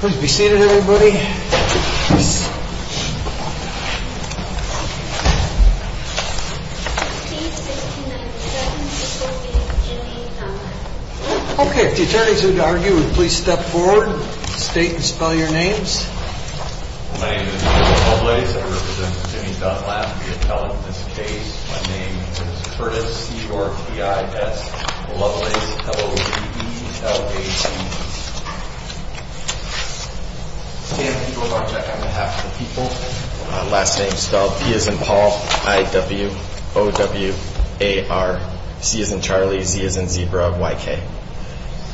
Please be seated, everybody. Okay, if the attorneys would argue, please step forward, state and spell your names. My name is Michael Lovelace. I represent Jimmy Dunlap, the appellant in this case. My name is Curtis Lovelace, L-O-V-E-L-A-T-E. Can you go about checking the half of the people? Last name spelled P as in Paul, I-W-O-W-A-R, C as in Charlie, Z as in Zebra, Y-K.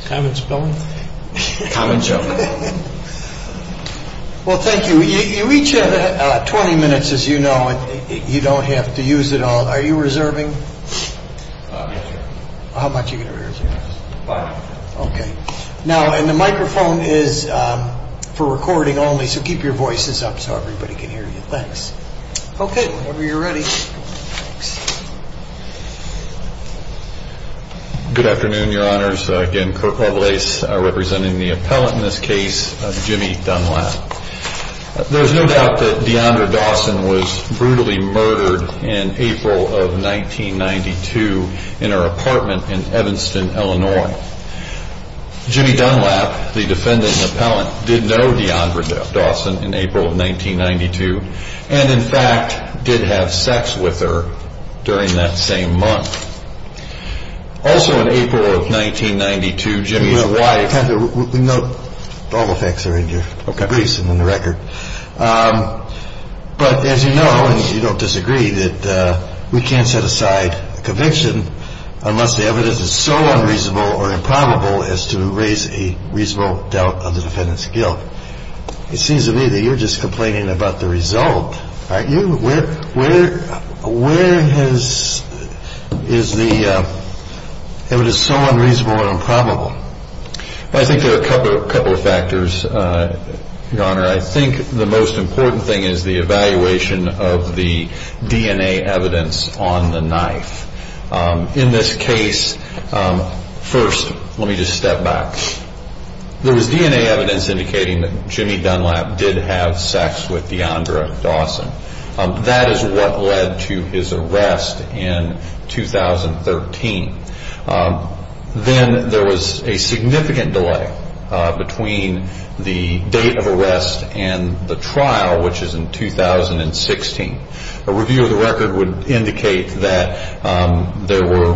Common spelling? Common joke. Well, thank you. You each have 20 minutes, as you know, and you don't have to use it all. Are you reserving? Yes, sir. How much are you going to reserve? Five. Okay. Now, and the microphone is for recording only, so keep your voices up so everybody can hear you. Thanks. Okay, whenever you're ready. Good afternoon, Your Honors. Again, Kirk Lovelace, representing the appellant in this case, Jimmy Dunlap. There's no doubt that D'Andra Dawson was brutally murdered in April of 1992 in her apartment in Evanston, Illinois. Jimmy Dunlap, the defendant and appellant, did know D'Andra Dawson in April of 1992 and, in fact, did have sex with her during that same month. Also in April of 1992, Jimmy's wife- We know all the facts are in your briefs and in the record. But as you know, and you don't disagree, that we can't set aside a conviction unless the evidence is so unreasonable or improbable as to raise a reasonable doubt of the defendant's guilt. It seems to me that you're just complaining about the result, aren't you? Where is the evidence so unreasonable and improbable? I think there are a couple of factors, Your Honor. I think the most important thing is the evaluation of the DNA evidence on the knife. In this case, first let me just step back. There was DNA evidence indicating that Jimmy Dunlap did have sex with D'Andra Dawson. That is what led to his arrest in 2013. Then there was a significant delay between the date of arrest and the trial, which is in 2016. A review of the record would indicate that there were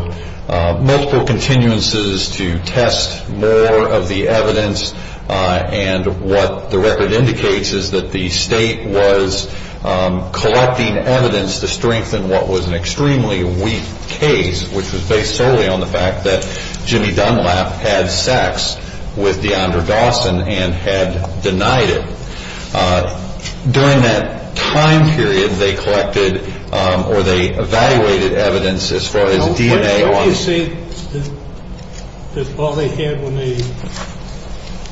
multiple continuances to test more of the evidence. And what the record indicates is that the state was collecting evidence to strengthen what was an extremely weak case, which was based solely on the fact that Jimmy Dunlap had sex with D'Andra Dawson and had denied it. During that time period, they collected or they evaluated evidence as far as DNA. Don't you see that all they had when they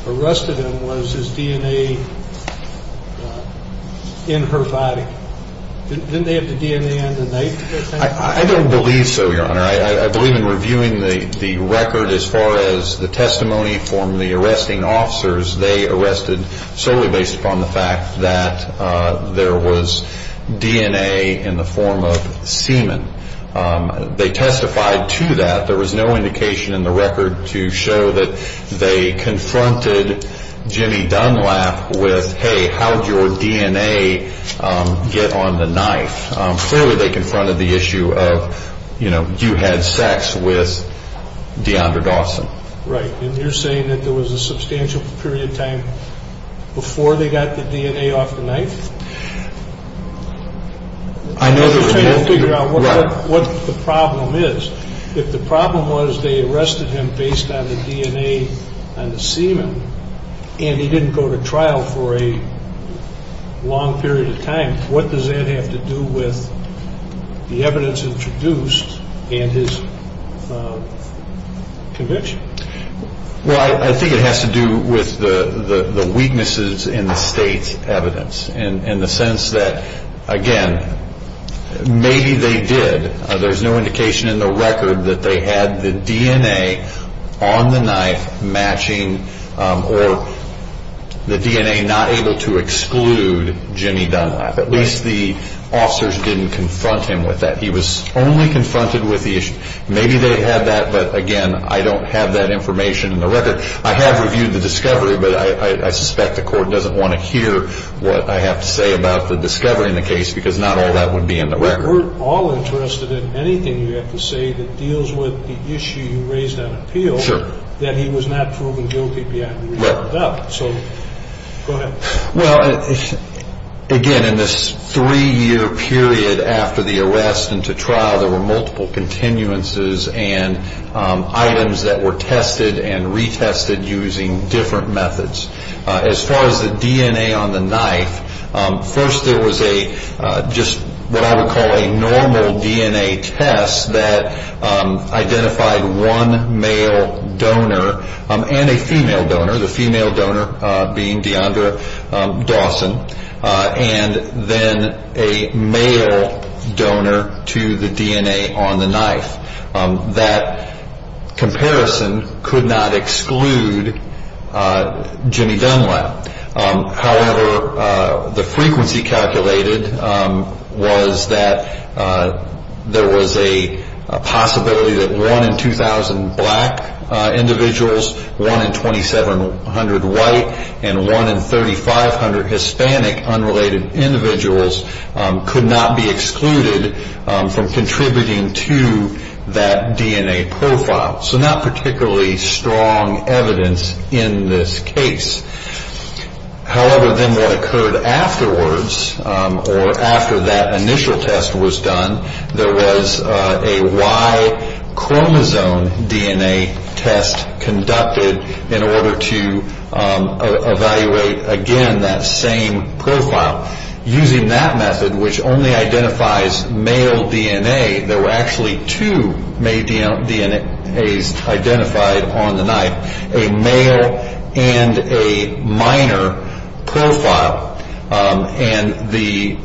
arrested him was his DNA in her body? Didn't they have the DNA on the knife? I don't believe so, Your Honor. I believe in reviewing the record as far as the testimony from the arresting officers, they arrested solely based upon the fact that there was DNA in the form of semen. They testified to that. There was no indication in the record to show that they confronted Jimmy Dunlap with, hey, how did your DNA get on the knife? Clearly, they confronted the issue of, you know, you had sex with D'Andra Dawson. Right. And you're saying that there was a substantial period of time before they got the DNA off the knife? I know there was. I'm trying to figure out what the problem is. If the problem was they arrested him based on the DNA on the semen and he didn't go to trial for a long period of time, what does that have to do with the evidence introduced in his conviction? Well, I think it has to do with the weaknesses in the state's evidence in the sense that, again, maybe they did. There's no indication in the record that they had the DNA on the knife matching or the DNA not able to exclude Jimmy Dunlap. At least the officers didn't confront him with that. He was only confronted with the issue. Maybe they had that, but, again, I don't have that information in the record. I have reviewed the discovery, but I suspect the court doesn't want to hear what I have to say about the discovery in the case because not all that would be in the record. We're all interested in anything you have to say that deals with the issue you raised on appeal, that he was not proven guilty beyond being brought up. So go ahead. Well, again, in this three-year period after the arrest and to trial, there were multiple continuances and items that were tested and retested using different methods. As far as the DNA on the knife, first there was just what I would call a normal DNA test that identified one male donor and a female donor, the female donor being Deondra Dawson, and then a male donor to the DNA on the knife. That comparison could not exclude Jimmy Dunlap. However, the frequency calculated was that there was a possibility that one in 2,000 black individuals, one in 2,700 white, and one in 3,500 Hispanic unrelated individuals could not be excluded from contributing to that DNA profile. So not particularly strong evidence in this case. However, then what occurred afterwards or after that initial test was done, there was a Y-chromosome DNA test conducted in order to evaluate, again, that same profile. Now, using that method, which only identifies male DNA, there were actually two male DNAs identified on the knife, a male and a minor profile, and the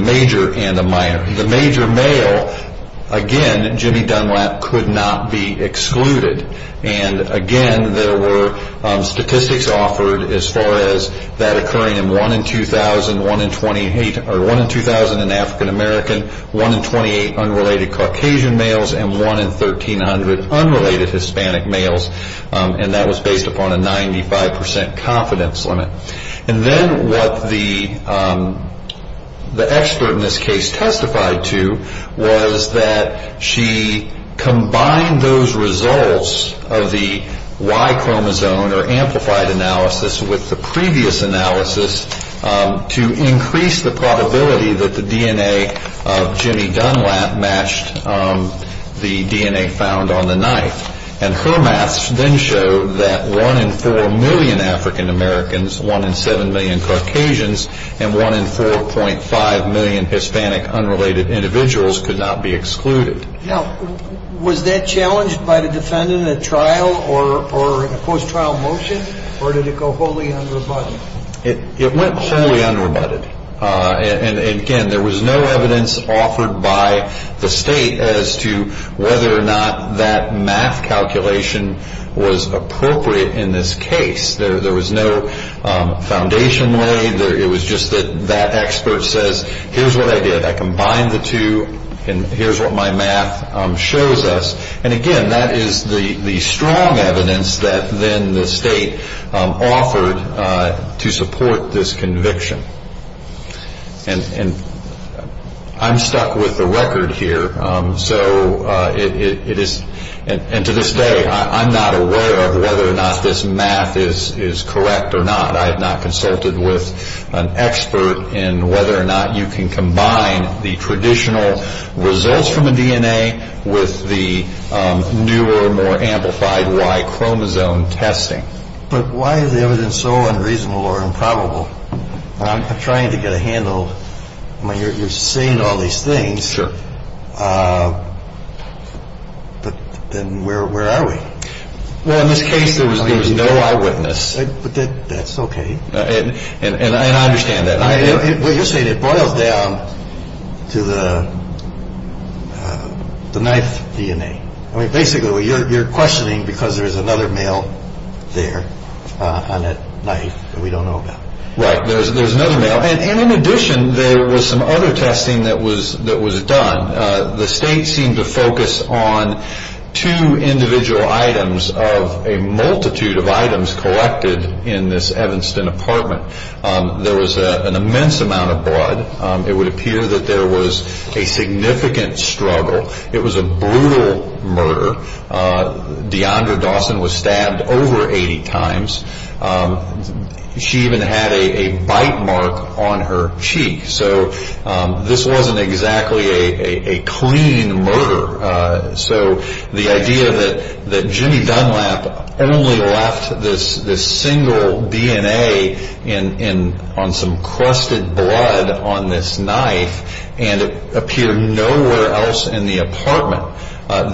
major and a minor. The major male, again, Jimmy Dunlap could not be excluded. Again, there were statistics offered as far as that occurring in one in 2,000, one in 2,000 in African American, one in 28 unrelated Caucasian males, and one in 1,300 unrelated Hispanic males, and that was based upon a 95% confidence limit. And then what the expert in this case testified to was that she combined those results of the Y-chromosome or amplified analysis with the previous analysis to increase the probability that the DNA of Jimmy Dunlap matched the DNA found on the knife. And her math then showed that one in 4 million African Americans, one in 7 million Caucasians, and one in 4.5 million Hispanic unrelated individuals could not be excluded. Now, was that challenged by the defendant at trial or in a post-trial motion, or did it go wholly unrebutted? It went wholly unrebutted. And again, there was no evidence offered by the state as to whether or not that math calculation was appropriate in this case. There was no foundation laid. It was just that that expert says, here's what I did. I combined the two, and here's what my math shows us. And again, that is the strong evidence that then the state offered to support this conviction. And I'm stuck with the record here. So it is, and to this day, I'm not aware of whether or not this math is correct or not. I have not consulted with an expert in whether or not you can combine the traditional results from a DNA with the newer, more amplified Y chromosome testing. But why is the evidence so unreasonable or improbable? I'm trying to get a handle. I mean, you're saying all these things. Sure. But then where are we? Well, in this case, there was no eyewitness. But that's okay. And I understand that. You're saying it boils down to the knife DNA. I mean, basically, you're questioning because there is another male there on that knife that we don't know about. Right. There's another male. And in addition, there was some other testing that was done. The state seemed to focus on two individual items of a multitude of items collected in this Evanston apartment. There was an immense amount of blood. It would appear that there was a significant struggle. It was a brutal murder. Deondra Dawson was stabbed over 80 times. She even had a bite mark on her cheek. So this wasn't exactly a clean murder. So the idea that Jimmy Dunlap only left this single DNA on some crusted blood on this knife and it appeared nowhere else in the apartment.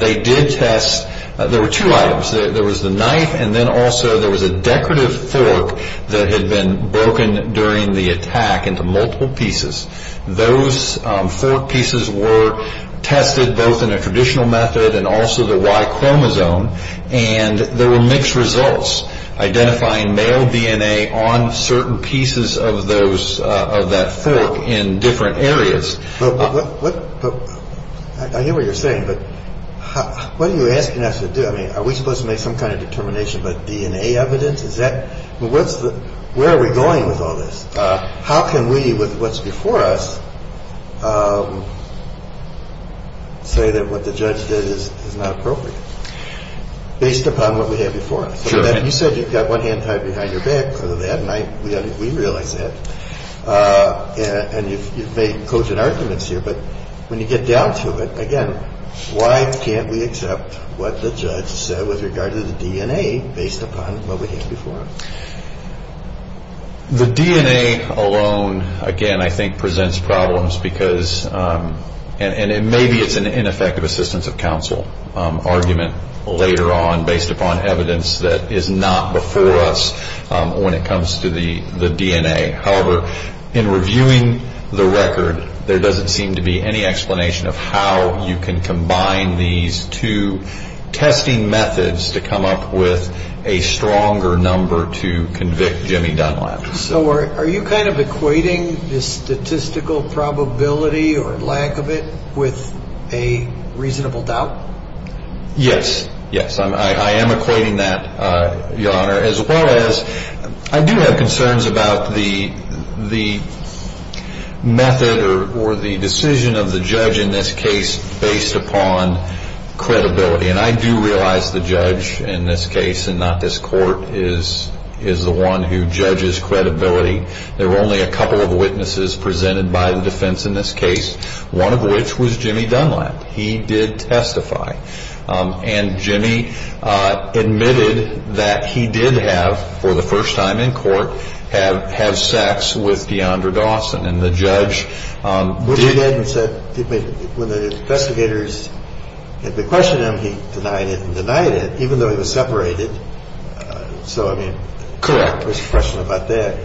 They did test. There were two items. There was the knife, and then also there was a decorative fork that had been broken during the attack into multiple pieces. Those four pieces were tested both in a traditional method and also the Y chromosome. And there were mixed results identifying male DNA on certain pieces of that fork in different areas. I hear what you're saying, but what are you asking us to do? I mean, are we supposed to make some kind of determination about DNA evidence? Where are we going with all this? How can we, with what's before us, say that what the judge did is not appropriate based upon what we have before us? You said you've got one hand tied behind your back because of that, and we realize that. And you've made cogent arguments here, but when you get down to it, again, why can't we accept what the judge said with regard to the DNA based upon what we have before us? The DNA alone, again, I think presents problems, and maybe it's an ineffective assistance of counsel argument later on based upon evidence that is not before us when it comes to the DNA. However, in reviewing the record, there doesn't seem to be any explanation of how you can combine these two testing methods to come up with a stronger number to convict Jimmy Dunlap. So are you kind of equating the statistical probability or lack of it with a reasonable doubt? Yes, yes. I am equating that, Your Honor, as well as I do have concerns about the method or the decision of the judge in this case based upon credibility. And I do realize the judge in this case and not this court is the one who judges credibility. There were only a couple of witnesses presented by the defense in this case, one of which was Jimmy Dunlap. He did testify. And Jimmy admitted that he did have, for the first time in court, have sex with Deondra Dawson. And the judge did. When the investigators had questioned him, he denied it and denied it, even though he was separated. So, I mean. Correct. There's a question about that.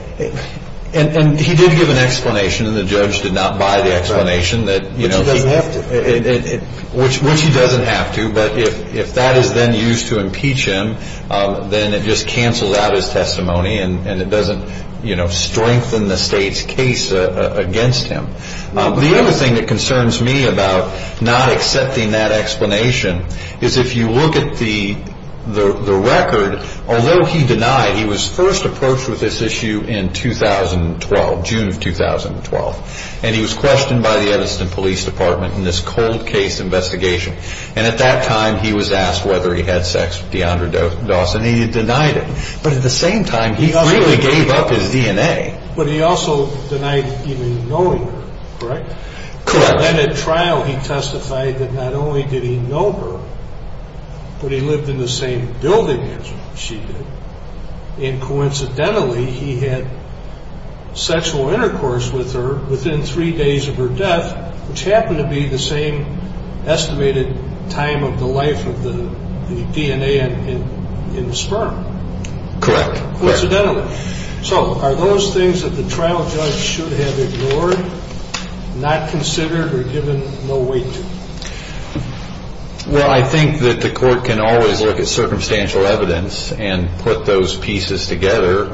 And he did give an explanation, and the judge did not buy the explanation. Which he doesn't have to. Which he doesn't have to. But if that is then used to impeach him, then it just cancels out his testimony and it doesn't strengthen the state's case against him. The other thing that concerns me about not accepting that explanation is if you look at the record, although he denied, he was first approached with this issue in 2012, June of 2012. And he was questioned by the Edison Police Department in this cold case investigation. And at that time, he was asked whether he had sex with Deondra Dawson. He denied it. But at the same time, he freely gave up his DNA. But he also denied even knowing her, correct? Correct. And then at trial, he testified that not only did he know her, but he lived in the same building as she did. And coincidentally, he had sexual intercourse with her within three days of her death, which happened to be the same estimated time of the life of the DNA in the sperm. Coincidentally. So are those things that the trial judge should have ignored, not considered, or given no weight to? Well, I think that the court can always look at circumstantial evidence and put those pieces together.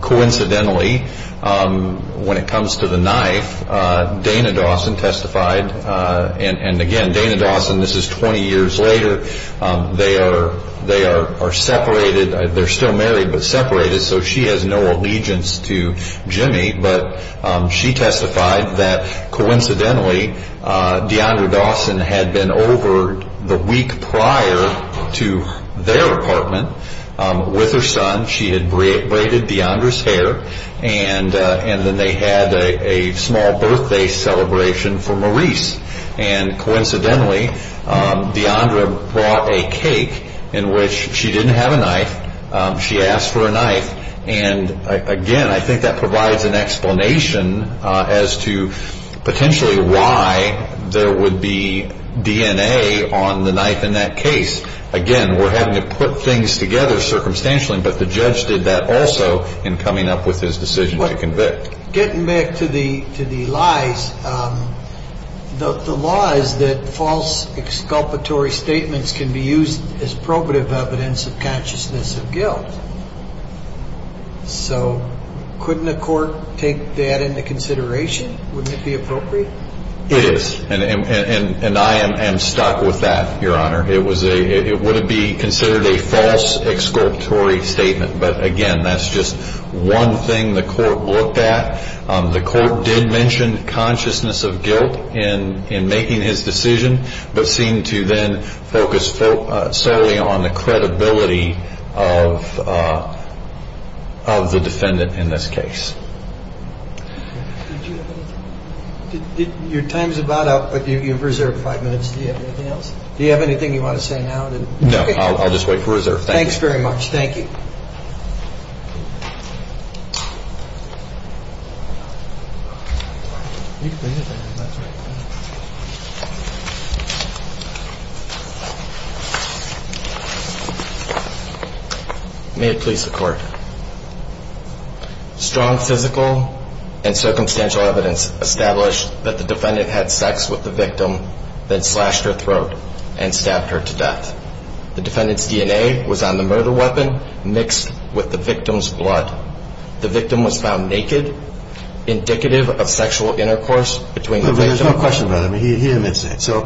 Coincidentally, when it comes to the knife, Dana Dawson testified. And again, Dana Dawson, this is 20 years later. They are separated. They're still married, but separated. So she has no allegiance to Jimmy. But she testified that coincidentally, Deondra Dawson had been over the week prior to their apartment with her son. She had braided Deondra's hair. And then they had a small birthday celebration for Maurice. And coincidentally, Deondra brought a cake in which she didn't have a knife. She asked for a knife. And again, I think that provides an explanation as to potentially why there would be DNA on the knife in that case. Again, we're having to put things together circumstantially. But the judge did that also in coming up with his decision to convict. Getting back to the lies, the law is that false exculpatory statements can be used as probative evidence of consciousness of guilt. So couldn't a court take that into consideration? Wouldn't it be appropriate? It is. And I am stuck with that, Your Honor. It would be considered a false exculpatory statement. But again, that's just one thing the court looked at. The court did mention consciousness of guilt in making his decision, but seemed to then focus solely on the credibility of the defendant in this case. Your time's about up, but you've reserved five minutes. Do you have anything else? Do you have anything you want to say now? No, I'll just wait for reserve. Thanks very much. Thank you. May it please the court. Strong physical and circumstantial evidence established that the defendant had sex with the victim, then slashed her throat and stabbed her to death. The defendant's DNA was on the murder weapon mixed with the victim's blood. The victim was found naked, indicative of sexual intercourse between the victim and the defendant. There's no question about it. He admits that. So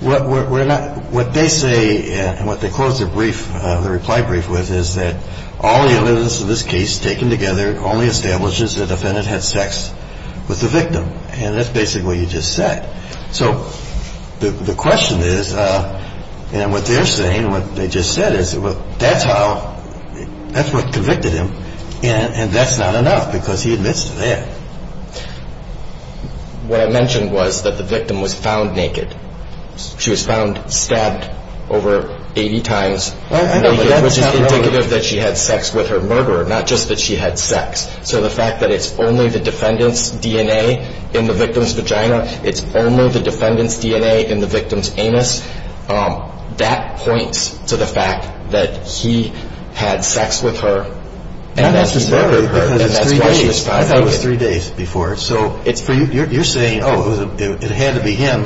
what they say, and what they close the reply brief with, is that all the evidence in this case taken together only establishes the defendant had sex with the victim. And that's basically what you just said. So the question is, and what they're saying, what they just said is, that's what convicted him, and that's not enough because he admits to that. What I mentioned was that the victim was found naked. She was found stabbed over 80 times naked, which is indicative that she had sex with her murderer, not just that she had sex. So the fact that it's only the defendant's DNA in the victim's vagina, it's only the defendant's DNA in the victim's anus, that points to the fact that he had sex with her. I thought it was three days before. So you're saying, oh, it had to be him.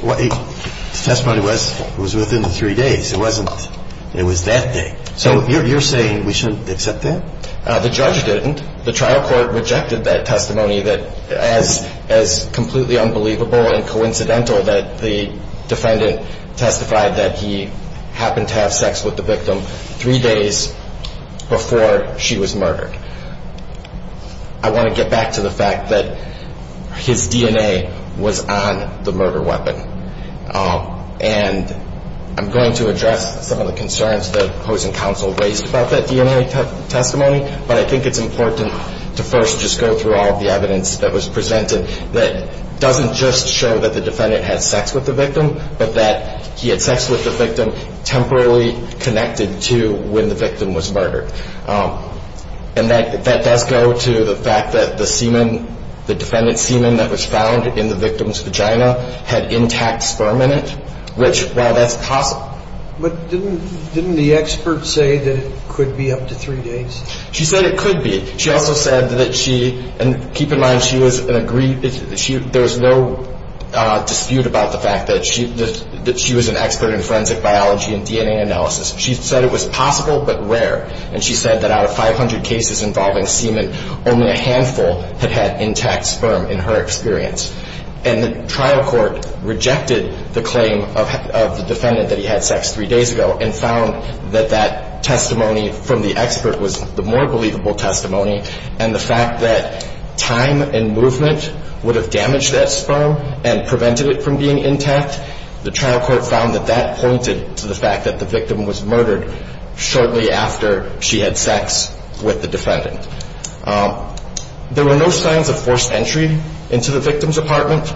The testimony was within the three days. It wasn't. It was that day. So you're saying we shouldn't accept that? The judge didn't. The trial court rejected that testimony as completely unbelievable and coincidental that the defendant testified that he happened to have sex with the victim three days before she was murdered. I want to get back to the fact that his DNA was on the murder weapon, and I'm going to address some of the concerns that opposing counsel raised about that DNA testimony, but I think it's important to first just go through all of the evidence that was presented that doesn't just show that the defendant had sex with the victim, but that he had sex with the victim temporarily connected to when the victim was murdered. And that does go to the fact that the semen, the defendant's semen that was found in the victim's vagina had intact sperm in it, which, while that's possible. But didn't the expert say that it could be up to three days? She said it could be. She also said that she, and keep in mind, she was an agreed, there was no dispute about the fact that she was an expert in forensic biology and DNA analysis. She said it was possible but rare, and she said that out of 500 cases involving semen, only a handful had had intact sperm in her experience. And the trial court rejected the claim of the defendant that he had sex three days ago and found that that testimony from the expert was the more believable testimony, and the fact that time and movement would have damaged that sperm and prevented it from being intact, the trial court found that that pointed to the fact that the victim was murdered shortly after she had sex with the defendant. There were no signs of forced entry into the victim's apartment,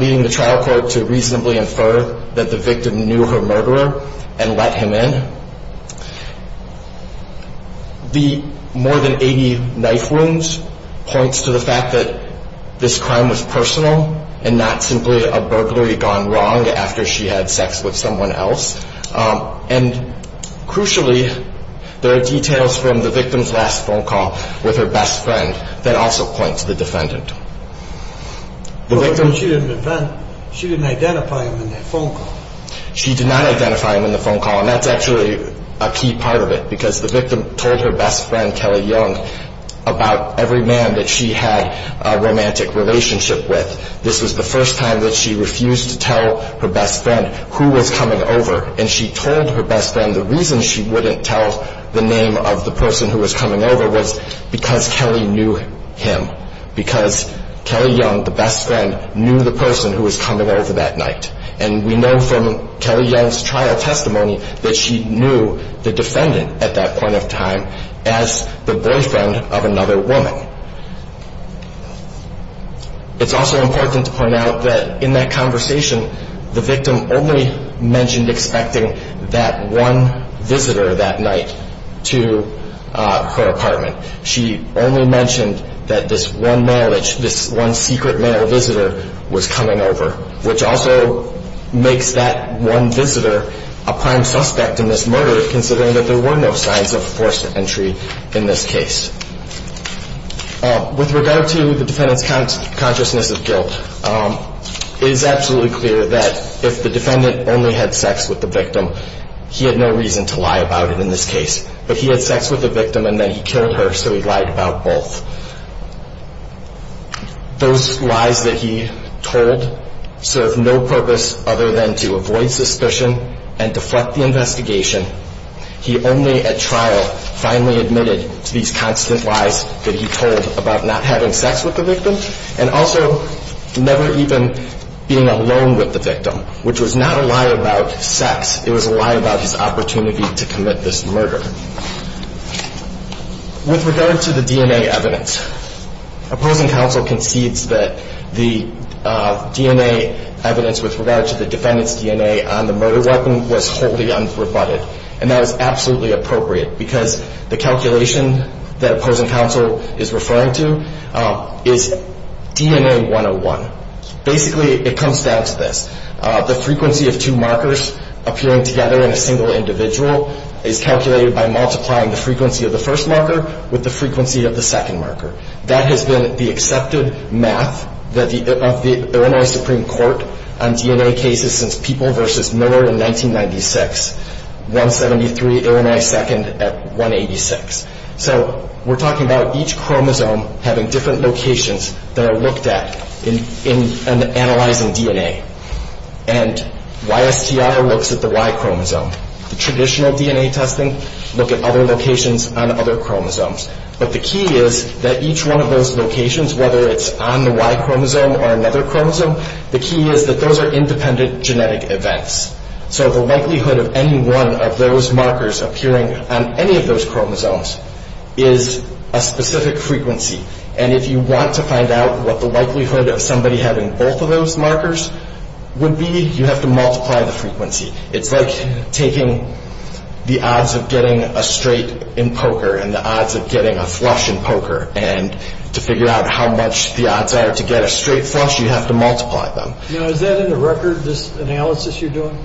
leading the trial court to reasonably infer that the victim knew her murderer and let him in. The more than 80 knife wounds points to the fact that this crime was personal and not simply a burglary gone wrong after she had sex with someone else. And crucially, there are details from the victim's last phone call with her best friend that also point to the defendant. She didn't identify him in that phone call. She did not identify him in the phone call, and that's actually a key part of it because the victim told her best friend, Kelly Young, about every man that she had a romantic relationship with. This was the first time that she refused to tell her best friend who was coming over, and she told her best friend the reason she wouldn't tell the name of the person who was coming over was because Kelly knew him, because Kelly Young, the best friend, knew the person who was coming over that night. And we know from Kelly Young's trial testimony that she knew the defendant at that point of time as the boyfriend of another woman. It's also important to point out that in that conversation, the victim only mentioned expecting that one visitor that night to her apartment. She only mentioned that this one secret male visitor was coming over, which also makes that one visitor a prime suspect in this murder considering that there were no signs of forced entry in this case. With regard to the defendant's consciousness of guilt, it is absolutely clear that if the defendant only had sex with the victim, he had no reason to lie about it in this case. But he had sex with the victim, and then he killed her, so he lied about both. Those lies that he told served no purpose other than to avoid suspicion and deflect the investigation. He only at trial finally admitted to these constant lies that he told about not having sex with the victim and also never even being alone with the victim, which was not a lie about sex. It was a lie about his opportunity to commit this murder. With regard to the DNA evidence, opposing counsel concedes that the DNA evidence with regard to the defendant's DNA on the murder weapon was wholly unrebutted, and that is absolutely appropriate because the calculation that opposing counsel is referring to is DNA 101. Basically, it comes down to this. The frequency of two markers appearing together in a single individual is calculated by multiplying the frequency of the first marker with the frequency of the second marker. That has been the accepted math of the Illinois Supreme Court on DNA cases since People v. Miller in 1996, 173, Illinois second at 186. So we're talking about each chromosome having different locations that are looked at in analyzing DNA. And YSTIR looks at the Y chromosome. The traditional DNA testing look at other locations on other chromosomes. But the key is that each one of those locations, whether it's on the Y chromosome or another chromosome, the key is that those are independent genetic events. So the likelihood of any one of those markers appearing on any of those chromosomes is a specific frequency. And if you want to find out what the likelihood of somebody having both of those markers would be, you have to multiply the frequency. It's like taking the odds of getting a straight in poker and the odds of getting a flush in poker. And to figure out how much the odds are to get a straight flush, you have to multiply them. Now, is that in the record, this analysis you're doing?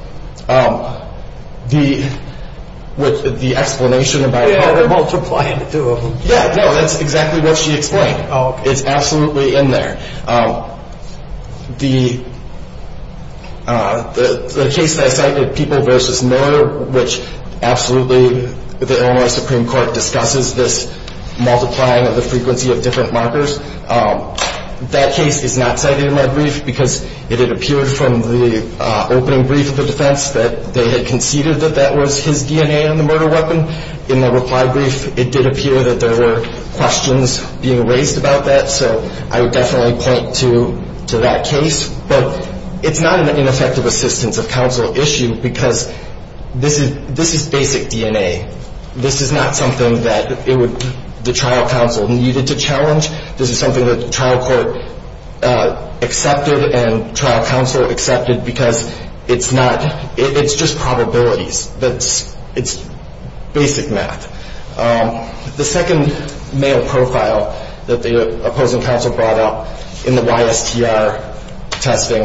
The explanation about how to multiply the two of them? Yeah, no, that's exactly what she explained. It's absolutely in there. The case that I cited, People v. Miller, which absolutely the Illinois Supreme Court discusses this multiplying of the frequency of different markers, that case is not cited in my brief because it had appeared from the opening brief of the defense that they had conceded that that was his DNA in the murder weapon. In the reply brief, it did appear that there were questions being raised about that. So I would definitely point to that case. But it's not an ineffective assistance of counsel issue because this is basic DNA. This is not something that the trial counsel needed to challenge. This is something that the trial court accepted and trial counsel accepted because it's just probabilities. It's basic math. The second male profile that the opposing counsel brought up in the YSTR testing,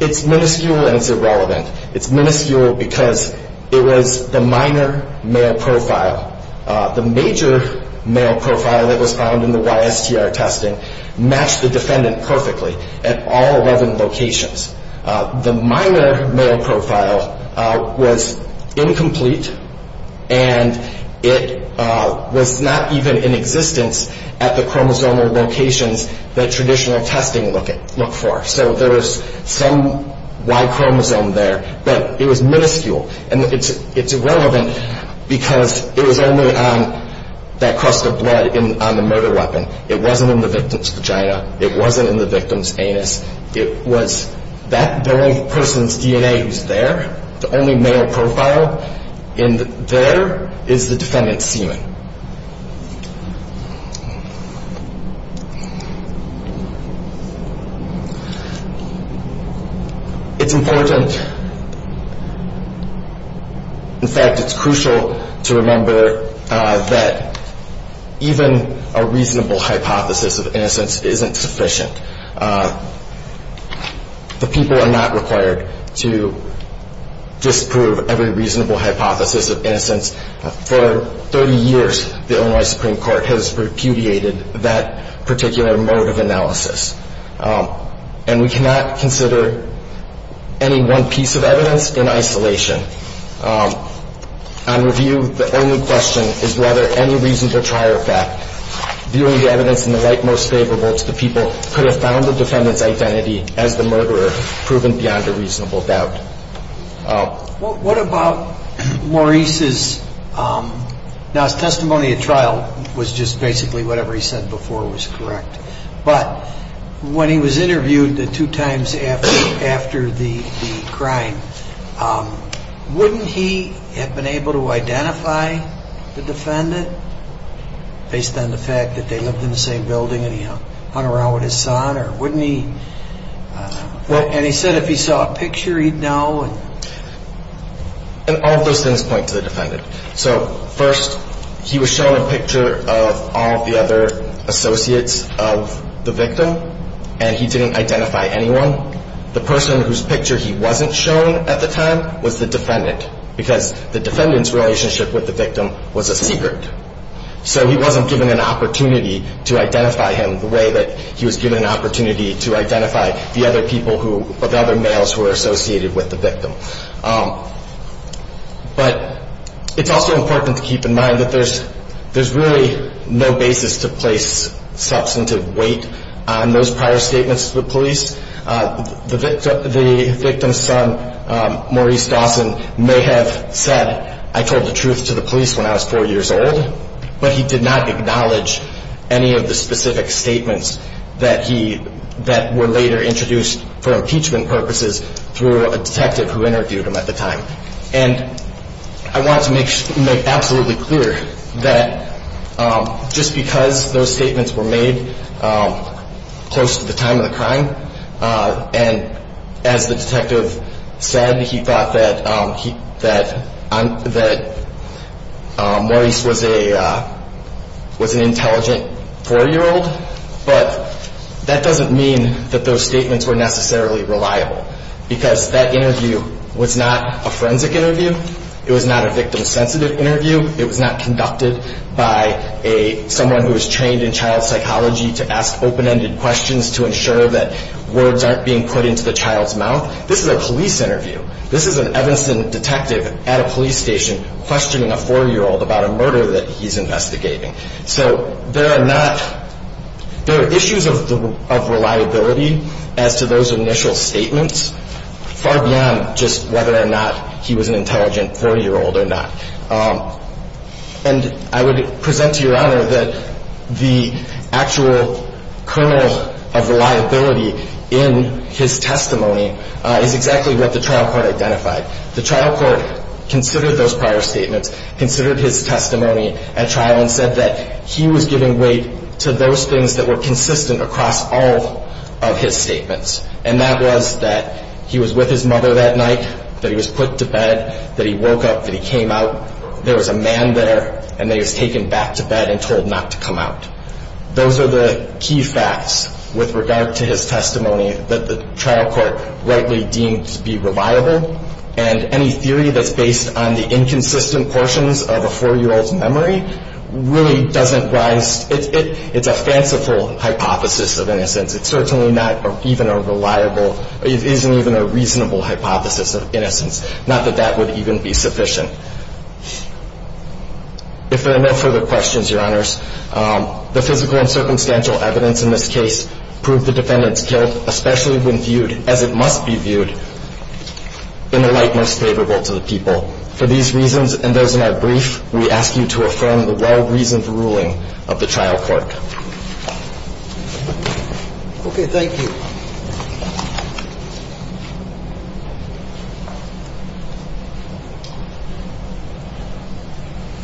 it's minuscule and it's irrelevant. It's minuscule because it was the minor male profile. The major male profile that was found in the YSTR testing matched the defendant perfectly at all 11 locations. The minor male profile was incomplete and it was not even in existence at the chromosomal locations that traditional testing looked for. So there was some Y chromosome there, but it was minuscule. And it's irrelevant because it was only on that crust of blood on the murder weapon. It wasn't in the victim's vagina. It wasn't in the victim's anus. It was that person's DNA was there. The only male profile in there is the defendant's semen. It's important, in fact, it's crucial to remember that even a reasonable hypothesis of innocence isn't sufficient. The people are not required to disprove every reasonable hypothesis of innocence. For 30 years, the Illinois Supreme Court has repudiated that particular mode of analysis. And we cannot consider any one piece of evidence in isolation. On review, the only question is whether any reasonable trial fact, viewing the evidence in the light most favorable to the people, could have found the defendant's identity as the murderer proven beyond a reasonable doubt. What about Maurice's, now his testimony at trial was just basically whatever he said before was correct. But when he was interviewed the two times after the crime, wouldn't he have been able to identify the defendant based on the fact that they lived in the same building and he hung around with his son? Or wouldn't he, and he said if he saw a picture he'd know. And all of those things point to the defendant. So first, he was shown a picture of all the other associates of the victim, and he didn't identify anyone. The person whose picture he wasn't shown at the time was the defendant, because the defendant's relationship with the victim was a secret. So he wasn't given an opportunity to identify him the way that he was given an opportunity to identify the other people who, or the other males who were associated with the victim. But it's also important to keep in mind that there's really no basis to place substantive weight on those prior statements to the police. The victim's son, Maurice Dawson, may have said, I told the truth to the police when I was four years old. But he did not acknowledge any of the specific statements that were later introduced for impeachment purposes through a detective who interviewed him at the time. And I want to make absolutely clear that just because those statements were made close to the time of the crime, and as the detective said, he thought that Maurice was an intelligent four-year-old, but that doesn't mean that those statements were necessarily reliable. Because that interview was not a forensic interview, it was not a victim-sensitive interview, it was not conducted by someone who was trained in child psychology to ask open-ended questions to ensure that words aren't being put into the child's mouth. This is a police interview. This is an Evanston detective at a police station questioning a four-year-old about a murder that he's investigating. So there are issues of reliability as to those initial statements, far beyond just whether or not he was an intelligent four-year-old or not. And I would present to Your Honor that the actual kernel of reliability in his testimony is exactly what the trial court identified. The trial court considered those prior statements, considered his testimony at trial, and said that he was giving weight to those things that were consistent across all of his statements. And that was that he was with his mother that night, that he was put to bed, that he woke up, that he came out, there was a man there, and that he was taken back to bed and told not to come out. Those are the key facts with regard to his testimony that the trial court rightly deemed to be reliable, and any theory that's based on the inconsistent portions of a four-year-old's memory really doesn't rise. It's a fanciful hypothesis of innocence. It certainly isn't even a reasonable hypothesis of innocence, not that that would even be sufficient. If there are no further questions, Your Honors, the physical and circumstantial evidence in this case proved the defendant's guilt, especially when viewed as it must be viewed, in a light most favorable to the people. For these reasons and those in our brief, we ask you to affirm the well-reasoned ruling of the trial court. Okay, thank you.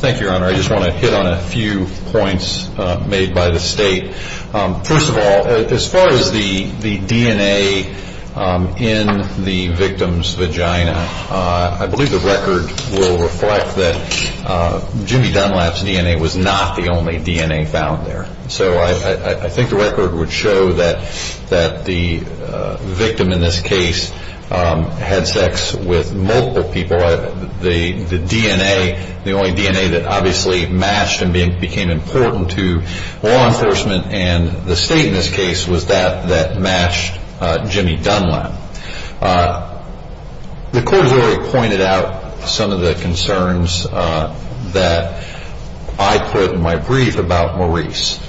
Thank you, Your Honor. I just want to hit on a few points made by the State. First of all, as far as the DNA in the victim's vagina, I believe the record will reflect that Jimmy Dunlap's DNA was not the only DNA found there. So I think the record would show that the victim in this case had sex with multiple people. The DNA, the only DNA that obviously matched and became important to law enforcement and the State in this case was that that matched Jimmy Dunlap. The court has already pointed out some of the concerns that I put in my brief about Maurice.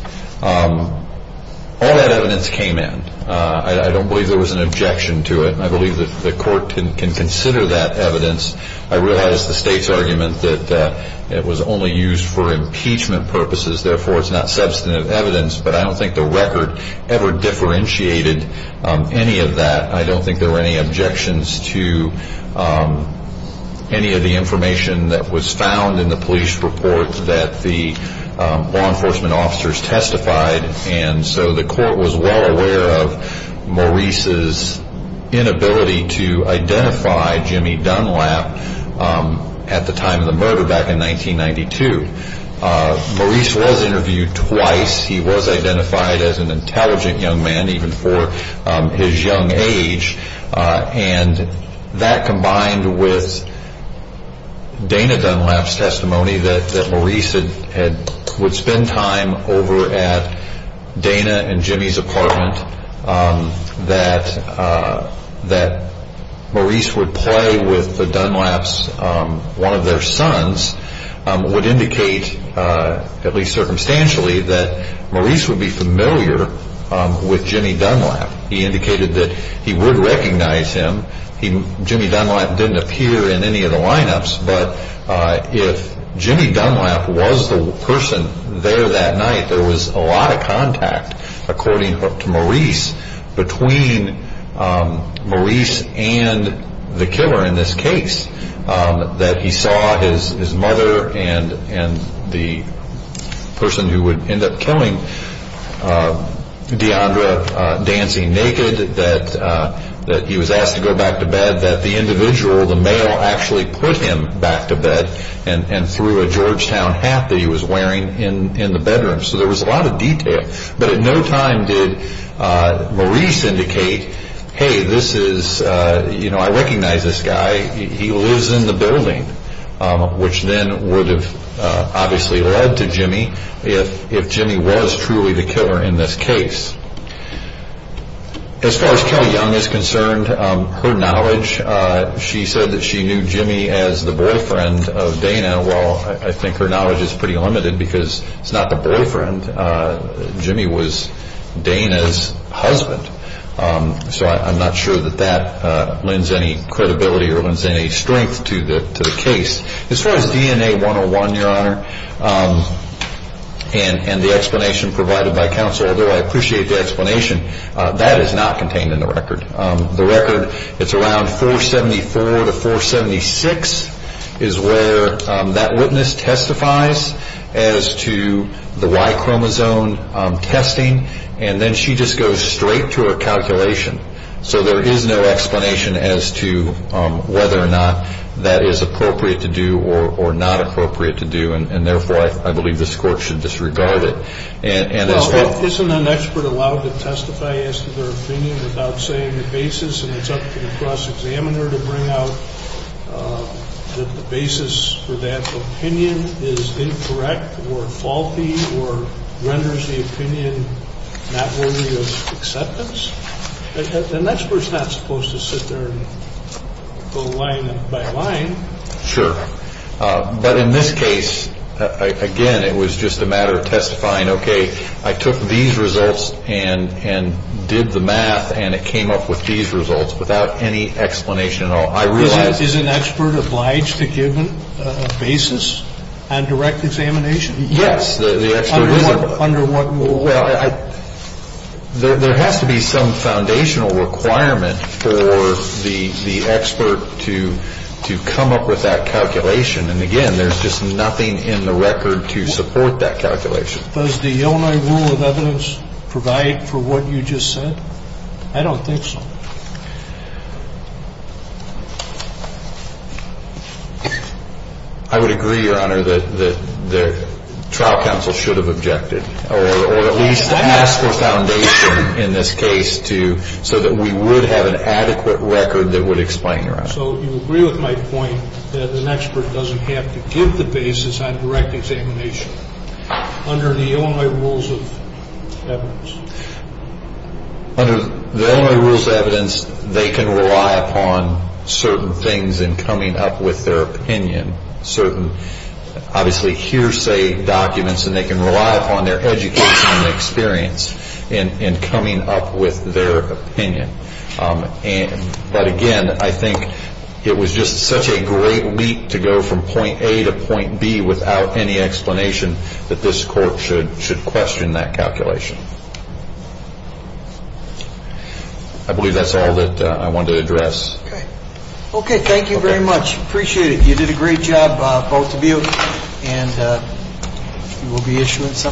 All that evidence came in. I don't believe there was an objection to it. I believe that the court can consider that evidence. I realize the State's argument that it was only used for impeachment purposes, therefore it's not substantive evidence, but I don't think the record ever differentiated any of that. I don't think there were any objections to any of the information that was found in the police report that the law enforcement officers testified, and so the court was well aware of Maurice's inability to identify Jimmy Dunlap at the time of the murder back in 1992. Maurice was interviewed twice. He was identified as an intelligent young man even for his young age, and that combined with Dana Dunlap's testimony that Maurice would spend time over at Dana and Jimmy's apartment, that Maurice would play with the Dunlaps, one of their sons, would indicate, at least circumstantially, that Maurice would be familiar with Jimmy Dunlap. He indicated that he would recognize him. Jimmy Dunlap didn't appear in any of the lineups, but if Jimmy Dunlap was the person there that night, there was a lot of contact, according to Maurice, between Maurice and the killer in this case, that he saw his mother and the person who would end up killing D'Andra dancing naked, that he was asked to go back to bed, that the individual, the male, actually put him back to bed and threw a Georgetown hat that he was wearing in the bedroom. So there was a lot of detail, but at no time did Maurice indicate, hey, this is, you know, I recognize this guy. He lives in the building, which then would have obviously led to Jimmy, if Jimmy was truly the killer in this case. As far as Kelly Young is concerned, her knowledge, she said that she knew Jimmy as the boyfriend of Dana. Well, I think her knowledge is pretty limited because it's not the boyfriend. Jimmy was Dana's husband. So I'm not sure that that lends any credibility or lends any strength to the case. As far as DNA 101, Your Honor, and the explanation provided by counsel, although I appreciate the explanation, that is not contained in the record. It's around 474 to 476 is where that witness testifies as to the Y chromosome testing, and then she just goes straight to her calculation. So there is no explanation as to whether or not that is appropriate to do or not appropriate to do, and therefore I believe this Court should disregard it. Isn't an expert allowed to testify as to their opinion without saying the basis, and it's up to the cross-examiner to bring out that the basis for that opinion is incorrect or faulty or renders the opinion not worthy of acceptance? An expert is not supposed to sit there and go line by line. Sure. But in this case, again, it was just a matter of testifying, okay, I took these results and did the math and it came up with these results without any explanation at all. Is an expert obliged to give a basis on direct examination? Yes. Under what rule? Well, there has to be some foundational requirement for the expert to come up with that calculation, and again, there's just nothing in the record to support that calculation. Does the Illinois rule of evidence provide for what you just said? I don't think so. I would agree, Your Honor, that the trial counsel should have objected or at least asked for foundation in this case so that we would have an adequate record that would explain, Your Honor. So you agree with my point that an expert doesn't have to give the basis on direct examination under the Illinois rules of evidence? Under the Illinois rules of evidence, they can rely upon certain things in coming up with their opinion, certain obviously hearsay documents, and they can rely upon their education and experience in coming up with their opinion. But again, I think it was just such a great leap to go from point A to point B without any explanation that this court should question that calculation. I believe that's all that I wanted to address. Okay. Okay. Thank you very much. Appreciate it. You did a great job, both of you, and you will be issuing something?